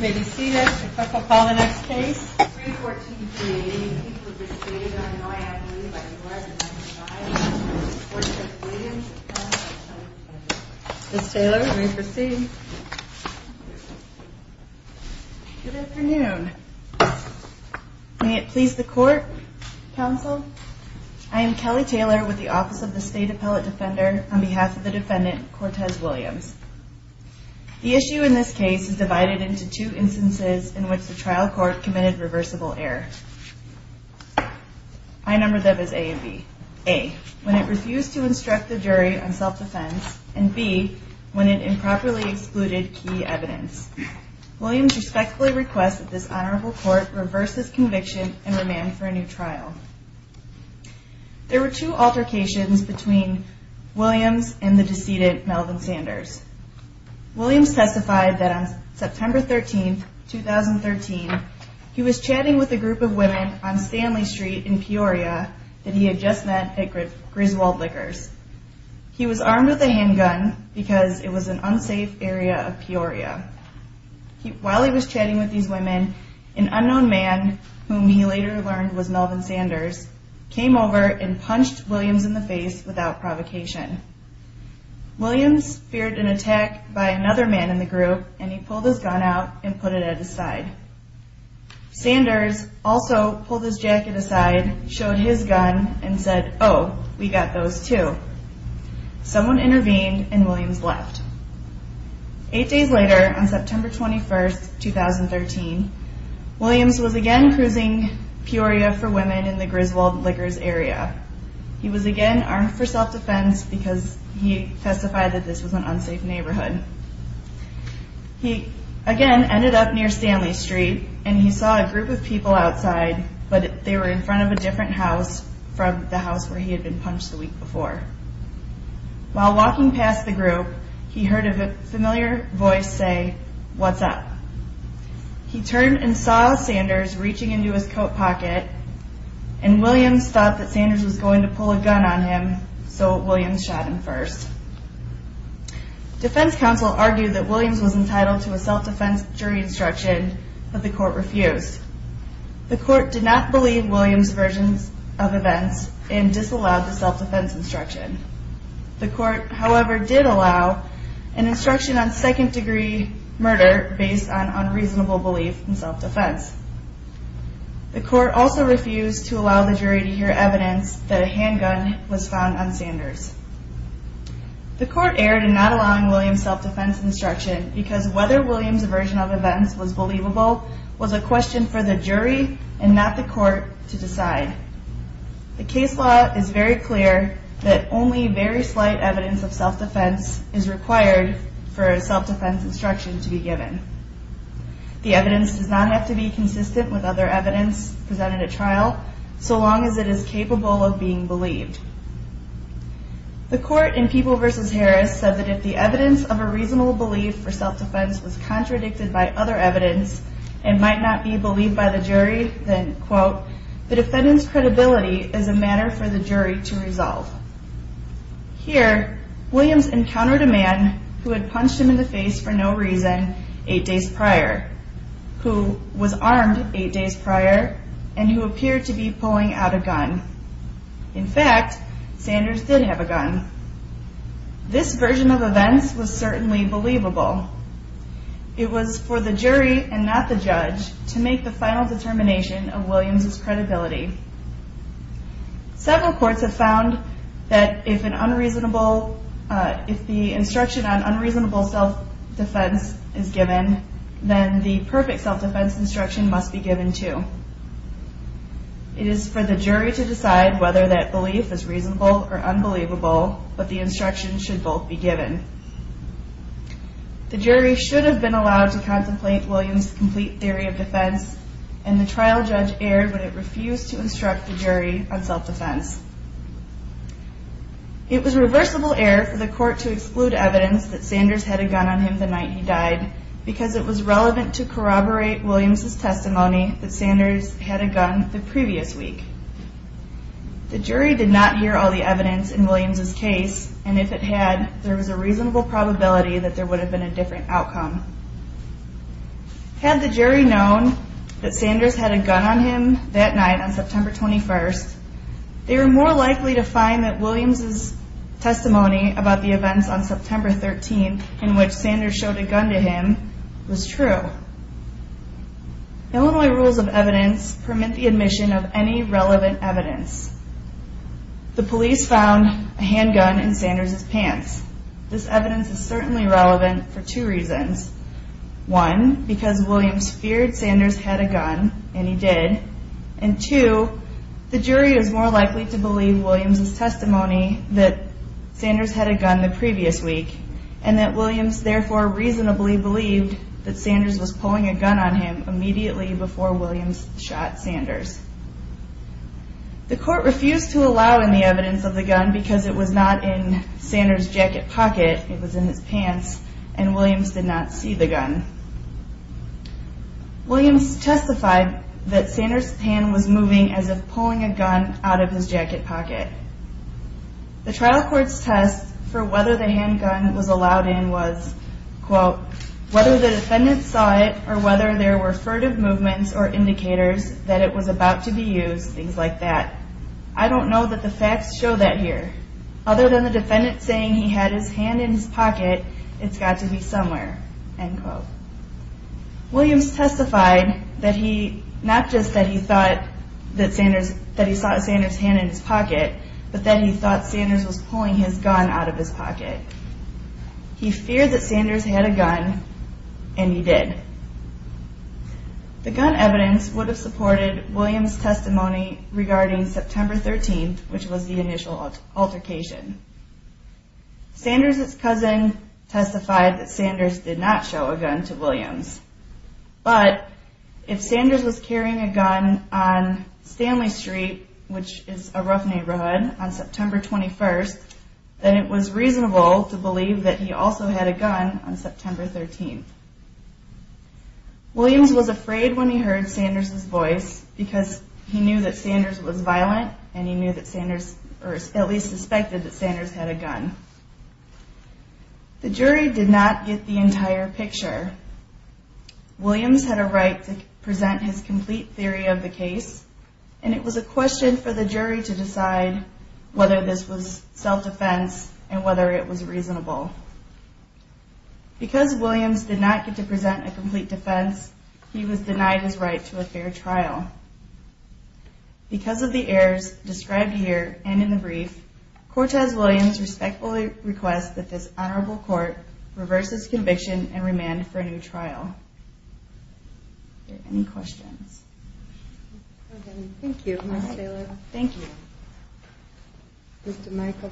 May it please the court, counsel. I am Kelly Taylor with the Office of the State Appellate Defender on behalf of the defendant, Cortez Williams. The issue in this case is divided into two instances in which the trial court committed reversible error. I numbered them as A and B. A, when it refused to instruct the jury on self-defense, and B, when it improperly excluded key evidence. Williams respectfully requests that this honorable court reverse this conviction and remand for a new trial. There were two altercations between Williams and the decedent Melvin Sanders. Williams testified that on September 13, 2013, he was chatting with a group of women on Stanley Street in Peoria that he had just met at Griswold Liquors. He was armed with a handgun because it was an unsafe area of Peoria. While he was chatting with these women, an unknown man, whom he later learned was Melvin Sanders, came over and punched Williams in the face without provocation. Williams feared an attack by another man in the group, and he pulled his gun out and put it at his side. Sanders also pulled his jacket aside, showed his gun, and said, oh, we got those too. Someone intervened, and Williams left. Eight days later, on September 21, 2013, Williams was again cruising Peoria for women in the Griswold Liquors area. He was again armed for self-defense because he testified that this was an unsafe neighborhood. He again ended up near Stanley Street, and he saw a group of people outside, but they were in front of a different house from the house where he had been punched the week before. While walking past the group, he heard a familiar voice say, what's up? He turned and saw Sanders reaching into his coat pocket, and Williams thought that Sanders was going to pull a gun on him, so Williams shot him first. Defense counsel argued that Williams was entitled to a self-defense jury instruction, but the court refused. The court did not believe Williams' version of events and disallowed the self-defense instruction. The court, however, did allow an instruction on second-degree murder based on unreasonable belief in self-defense. The court also refused to allow the jury to hear evidence that a handgun was found on Sanders. The court erred in not allowing Williams' self-defense instruction because whether Williams' version of events was believable was a question for the jury and not the court to decide. The case law is very clear that only very slight evidence of self-defense is required for a self-defense instruction to be given. The evidence does not have to be consistent with other evidence presented at trial so long as it is capable of being believed. The court in People v. Harris said that if the evidence of a reasonable belief for self-defense was contradicted by other evidence and might not be believed by the jury, then, quote, the defendant's credibility is a matter for the jury to resolve. Here, Williams encountered a man who had punched him in the face for no reason eight days prior, who was armed eight days prior, and who appeared to be pulling out a gun. In fact, Sanders did have a gun. This version of events was certainly believable. It was for the jury and not the judge to make the final determination of Williams' credibility. Several courts have found that if the instruction on unreasonable self-defense is given, then the perfect self-defense instruction must be given, too. It is for the jury to decide whether that belief is reasonable or unbelievable, but the instruction should both be given. The jury should have been allowed to contemplate Williams' complete theory of defense, and the trial judge erred when it refused to instruct the jury on self-defense. It was reversible error for the court to exclude evidence that Sanders had a gun on him the night he died because it was relevant to corroborate Williams' testimony that Sanders had a gun the previous week. The jury did not hear all the evidence in Williams' case, and if it had, there was a reasonable probability that there would have been a different outcome. Had the jury known that Sanders had a gun on him that night on September 21st, they were more likely to find that Williams' testimony about the events on September 13th in which Sanders showed a gun to him was true. Illinois rules of evidence permit the admission of any relevant evidence. The police found a handgun in Sanders' pants. This evidence is certainly relevant for two reasons. One, because Williams feared Sanders had a gun, and he did. And two, the jury is more likely to believe Williams' testimony that Sanders had a gun the previous week, and that Williams therefore reasonably believed that Sanders was pulling a gun on him immediately before Williams shot Sanders. The court refused to allow any evidence of the gun because it was not in Sanders' jacket pocket, it was in his pants, and Williams did not see the gun. Williams testified that Sanders' hand was moving as if pulling a gun out of his jacket pocket. The trial court's test for whether the handgun was allowed in was, quote, whether the defendant saw it or whether there were furtive movements or indicators that it was about to be used, things like that. I don't know that the facts show that here. Other than the defendant saying he had his hand in his pocket, it's got to be somewhere, end quote. Williams testified that he, not just that he thought that Sanders, that he saw Sanders' hand in his pocket, but that he thought Sanders was pulling his gun out of his pocket. He feared that Sanders had a gun, and he did. The gun evidence would have supported Williams' testimony regarding September 13th, which was the initial altercation. Sanders' cousin testified that Sanders did not show a gun to Williams. But if Sanders was carrying a gun on Stanley Street, which is a rough neighborhood, on September 21st, then it was reasonable to believe that he also had a gun on September 13th. Williams was afraid when he heard Sanders' voice because he knew that Sanders was violent, and he knew that Sanders, or at least suspected that Sanders had a gun. The jury did not get the entire picture. Williams had a right to present his complete theory of the case, and it was a question for the jury to decide whether this was self-defense and whether it was reasonable. Because Williams did not get to present a complete defense, he was denied his right to a fair trial. Because of the errors described here and in the brief, Cortez Williams respectfully requests that this honorable court reverse his conviction and remand him for a new trial. Are there any questions? Thank you, Ms. Taylor. Thank you. Mr. Michael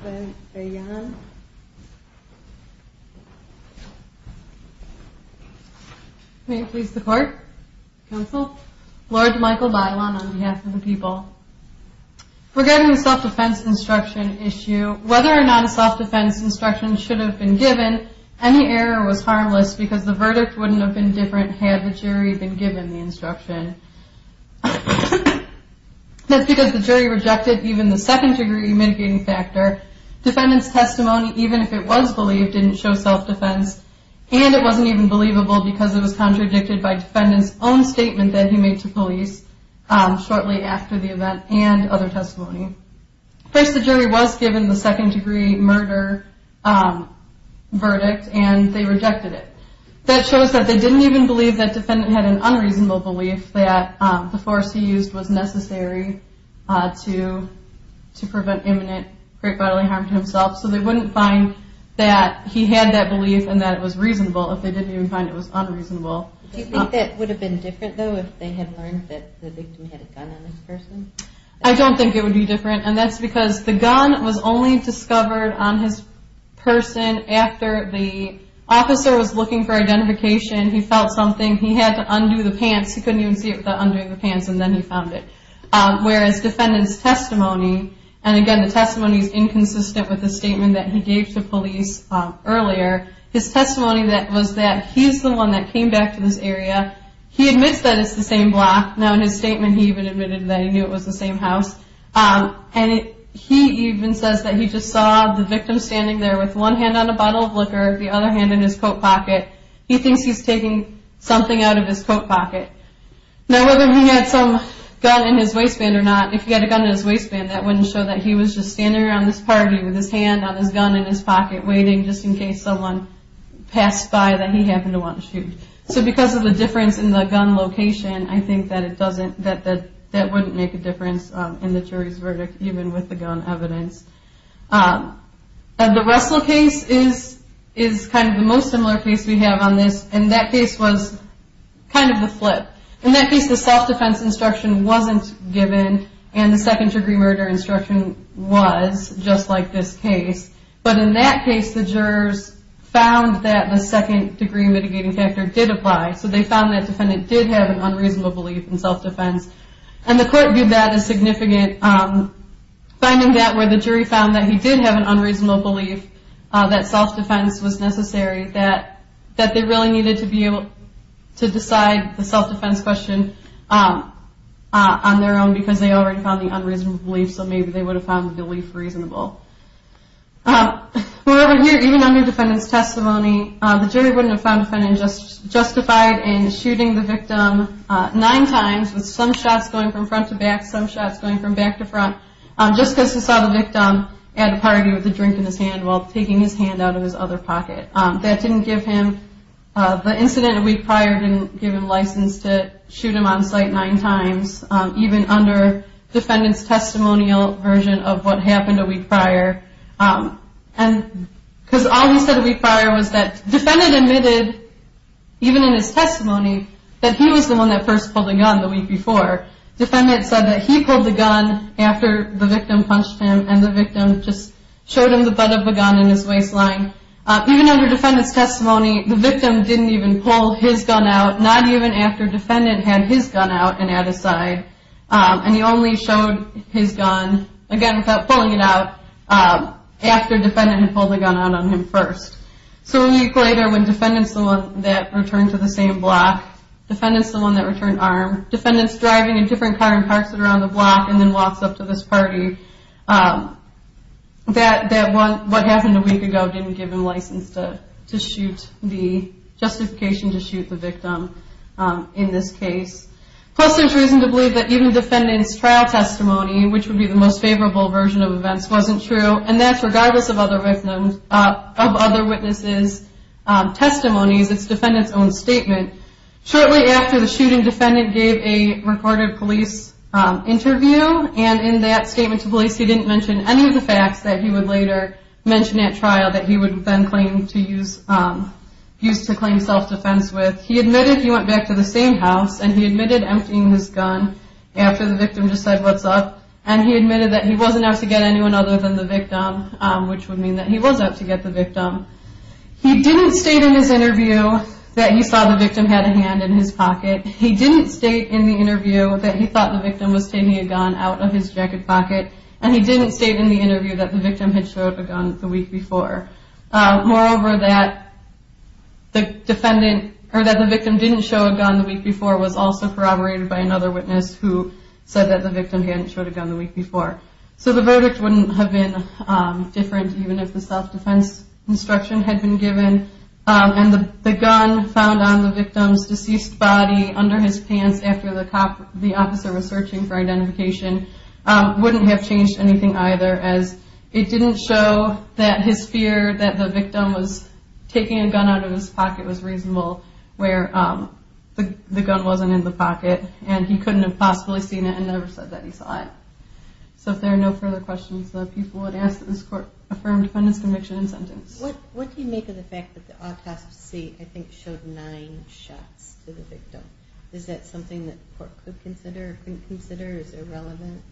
Bailon. May it please the court, counsel? Lord Michael Bailon on behalf of the people. Regarding the self-defense instruction issue, whether or not a self-defense instruction should have been given, any error was harmless because the verdict wouldn't have been different had the jury been given the instruction. That's because the jury rejected even the second-degree mitigating factor. Defendant's testimony, even if it was believed, didn't show self-defense, and it wasn't even believable because it was contradicted by defendant's own statement that he made to police shortly after the event and other testimony. First, the jury was given the second-degree murder verdict, and they rejected it. That shows that they didn't even believe that defendant had an unreasonable belief that the force he used was necessary to prevent imminent great bodily harm to himself. So they wouldn't find that he had that belief and that it was reasonable if they didn't even find it was unreasonable. Do you think that would have been different, though, if they had learned that the victim had a gun on his person? He felt something. He had to undo the pants. He couldn't even see it without undoing the pants, and then he found it. Whereas defendant's testimony, and again, the testimony is inconsistent with the statement that he gave to police earlier. His testimony was that he's the one that came back to this area. He admits that it's the same block. Now, in his statement, he even admitted that he knew it was the same house. And he even says that he just saw the victim standing there with one hand on a bottle of liquor, the other hand in his coat pocket. He thinks he's taking something out of his coat pocket. Now, whether he had some gun in his waistband or not, if he had a gun in his waistband, that wouldn't show that he was just standing around this party with his hand on his gun in his pocket, waiting just in case someone passed by that he happened to want to shoot. So because of the difference in the gun location, I think that it doesn't, that wouldn't make a difference in the jury's verdict, even with the gun evidence. The Russell case is kind of the most similar case we have on this, and that case was kind of the flip. In that case, the self-defense instruction wasn't given, and the second-degree murder instruction was, just like this case. But in that case, the jurors found that the second-degree mitigating factor did apply. So they found that defendant did have an unreasonable belief in self-defense. And the court viewed that as significant, finding that where the jury found that he did have an unreasonable belief that self-defense was necessary, that they really needed to be able to decide the self-defense question on their own because they already found the unreasonable belief, so maybe they would have found the belief reasonable. However, here, even under defendant's testimony, the jury wouldn't have found defendant justified in shooting the victim nine times, with some shots going from front to back, some shots going from back to front, just because he saw the victim at a party with a drink in his hand while taking his hand out of his other pocket. That didn't give him, the incident a week prior didn't give him license to shoot him on sight nine times. Even under defendant's testimonial version of what happened a week prior, because all he said a week prior was that defendant admitted, even in his testimony, that he was the one that first pulled the gun the week before. Defendant said that he pulled the gun after the victim punched him, and the victim just showed him the butt of the gun in his waistline. Even under defendant's testimony, the victim didn't even pull his gun out, not even after defendant had his gun out and at his side, and he only showed his gun, again, without pulling it out, after defendant had pulled the gun out on him first. So a week later, when defendant's the one that returned to the same block, defendant's the one that returned armed, defendant's driving a different car and parks it around the block and then walks up to this party, that what happened a week ago didn't give him license to shoot the, justification to shoot the victim in this case. Plus there's reason to believe that even defendant's trial testimony, which would be the most favorable version of events, wasn't true, and that's regardless of other witnesses' testimonies, it's defendant's own statement. Shortly after the shooting, defendant gave a recorded police interview, and in that statement to police, he didn't mention any of the facts that he would later mention at trial that he would then claim to use, use to claim self-defense with. He admitted he went back to the same house, and he admitted emptying his gun after the victim just said, what's up, and he admitted that he wasn't out to get anyone other than the victim, which would mean that he was out to get the victim. He didn't state in his interview that he saw the victim had a hand in his pocket. He didn't state in the interview that he thought the victim was taking a gun out of his jacket pocket, and he didn't state in the interview that the victim had showed a gun the week before. Moreover, that the defendant, or that the victim didn't show a gun the week before was also corroborated by another witness who said that the victim hadn't showed a gun the week before. So the verdict wouldn't have been different even if the self-defense instruction had been given, and the gun found on the victim's deceased body under his pants after the officer was searching for identification wouldn't have changed anything either, as it didn't show that his fear that the victim was taking a gun out of his pocket was reasonable, where the gun wasn't in the pocket, and he couldn't have possibly seen it and never said that he saw it. So if there are no further questions, the people would ask that this court affirm the defendant's conviction and sentence. What do you make of the fact that the autopsy, I think, showed nine shots to the victim? Is that something that the court could consider or couldn't consider? Is it relevant?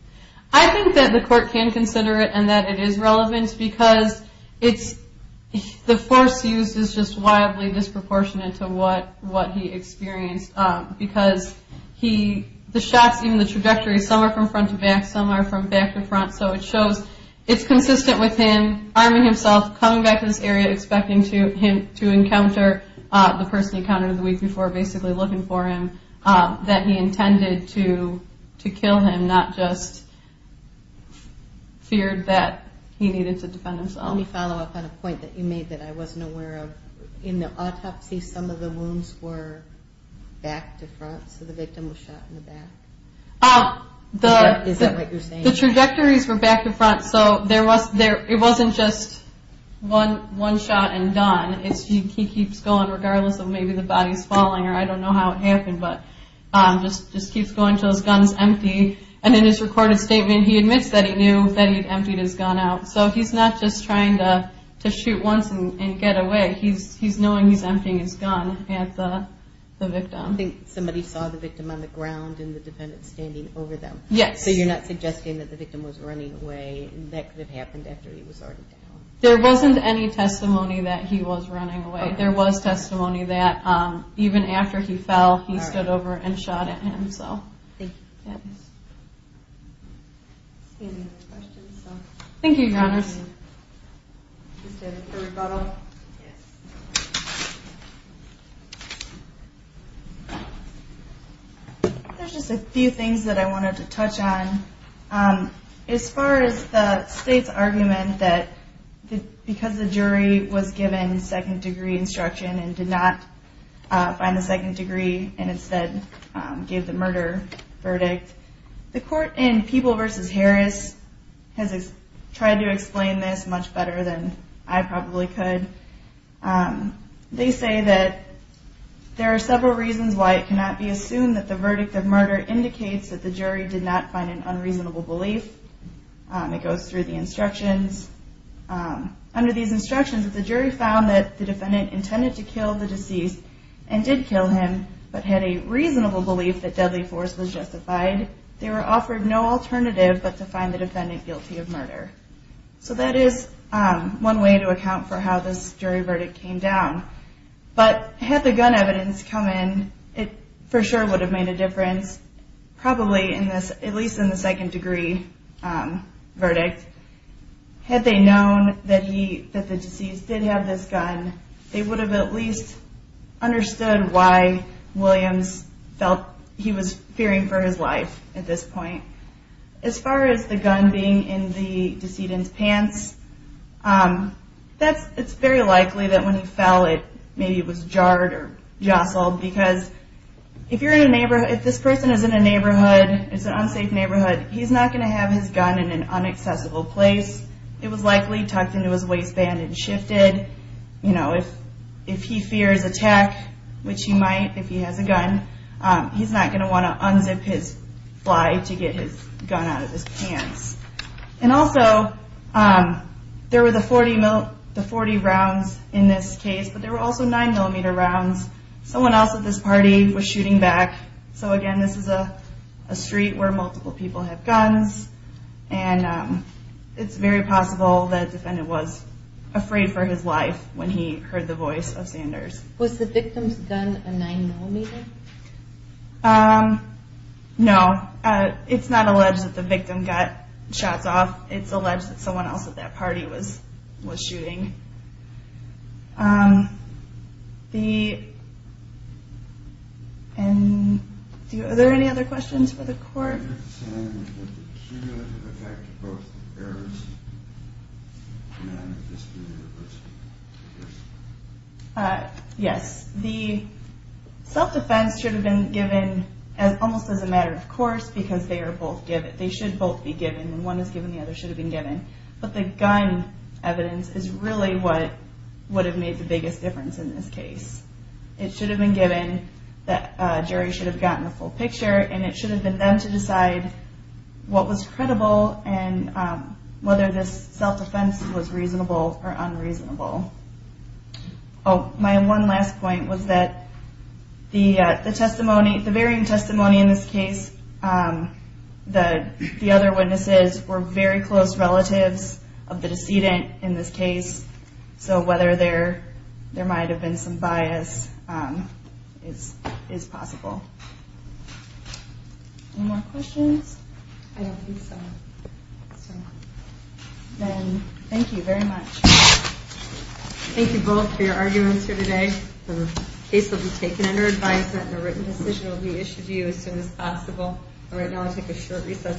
I think that the court can consider it and that it is relevant because the force used is just wildly disproportionate to what he experienced because the shots, even the trajectory, some are from front to back, some are from back to front, so it shows it's consistent with him arming himself, coming back to this area, expecting him to encounter the person he encountered the week before, basically looking for him, that he intended to kill him, not just feared that he needed to defend himself. Let me follow up on a point that you made that I wasn't aware of. In the autopsy, some of the wounds were back to front, so the victim was shot in the back? Is that what you're saying? The trajectories were back to front, so it wasn't just one shot and done. He keeps going, regardless of maybe the body's falling or I don't know how it happened, but just keeps going until his gun's empty, and in his recorded statement, he admits that he knew that he emptied his gun out, so he's not just trying to shoot once and get away. He's knowing he's emptying his gun at the victim. I think somebody saw the victim on the ground and the defendant standing over them. So you're not suggesting that the victim was running away and that could have happened after he was already down? There wasn't any testimony that he was running away. There was testimony that even after he fell, he stood over and shot at him. Thank you. Any other questions? Thank you, Your Honors. Is there a rebuttal? Yes. There's just a few things that I wanted to touch on. As far as the state's argument that because the jury was given second-degree instruction and did not find the second degree and instead gave the murder verdict, the court in Peeble v. Harris has tried to explain this much better than I probably could. They say that there are several reasons why it cannot be assumed that the verdict of murder indicates that the jury did not find an unreasonable belief. It goes through the instructions. Under these instructions, if the jury found that the defendant intended to kill the deceased and did kill him but had a reasonable belief that deadly force was justified, they were offered no alternative but to find the defendant guilty of murder. So that is one way to account for how this jury verdict came down. But had the gun evidence come in, it for sure would have made a difference, probably at least in the second-degree verdict. Had they known that the deceased did have this gun, they would have at least understood why Williams felt he was fearing for his life at this point. As far as the gun being in the decedent's pants, it's very likely that when he fell it maybe was jarred or jostled because if this person is in a neighborhood, it's an unsafe neighborhood, he's not going to have his gun in an unaccessible place. It was likely tucked into his waistband and shifted. If he fears attack, which he might if he has a gun, he's not going to want to unzip his fly to get his gun out of his pants. And also, there were the 40 rounds in this case, but there were also 9mm rounds. Someone else at this party was shooting back. So again, this is a street where multiple people have guns, and it's very possible that a defendant was afraid for his life when he heard the voice of Sanders. Was the victim's gun a 9mm? No. It's not alleged that the victim got shots off. It's alleged that someone else at that party was shooting. Are there any other questions for the court? Yes. The self-defense should have been given almost as a matter of course, because they should both be given. One is given, the other should have been given. But the gun evidence is really what would have made the biggest difference in this case. It should have been given, the jury should have gotten the full picture, and it should have been them to decide what was credible and whether this self-defense was reasonable or unreasonable. My one last point was that the varying testimony in this case, the other witnesses were very close relatives of the decedent in this case, so whether there might have been some bias is possible. Any more questions? I don't think so. Then, thank you very much. Thank you both for your arguments here today. The case will be taken under advisement, and a written decision will be issued to you as soon as possible. Right now, I'll take a short recess.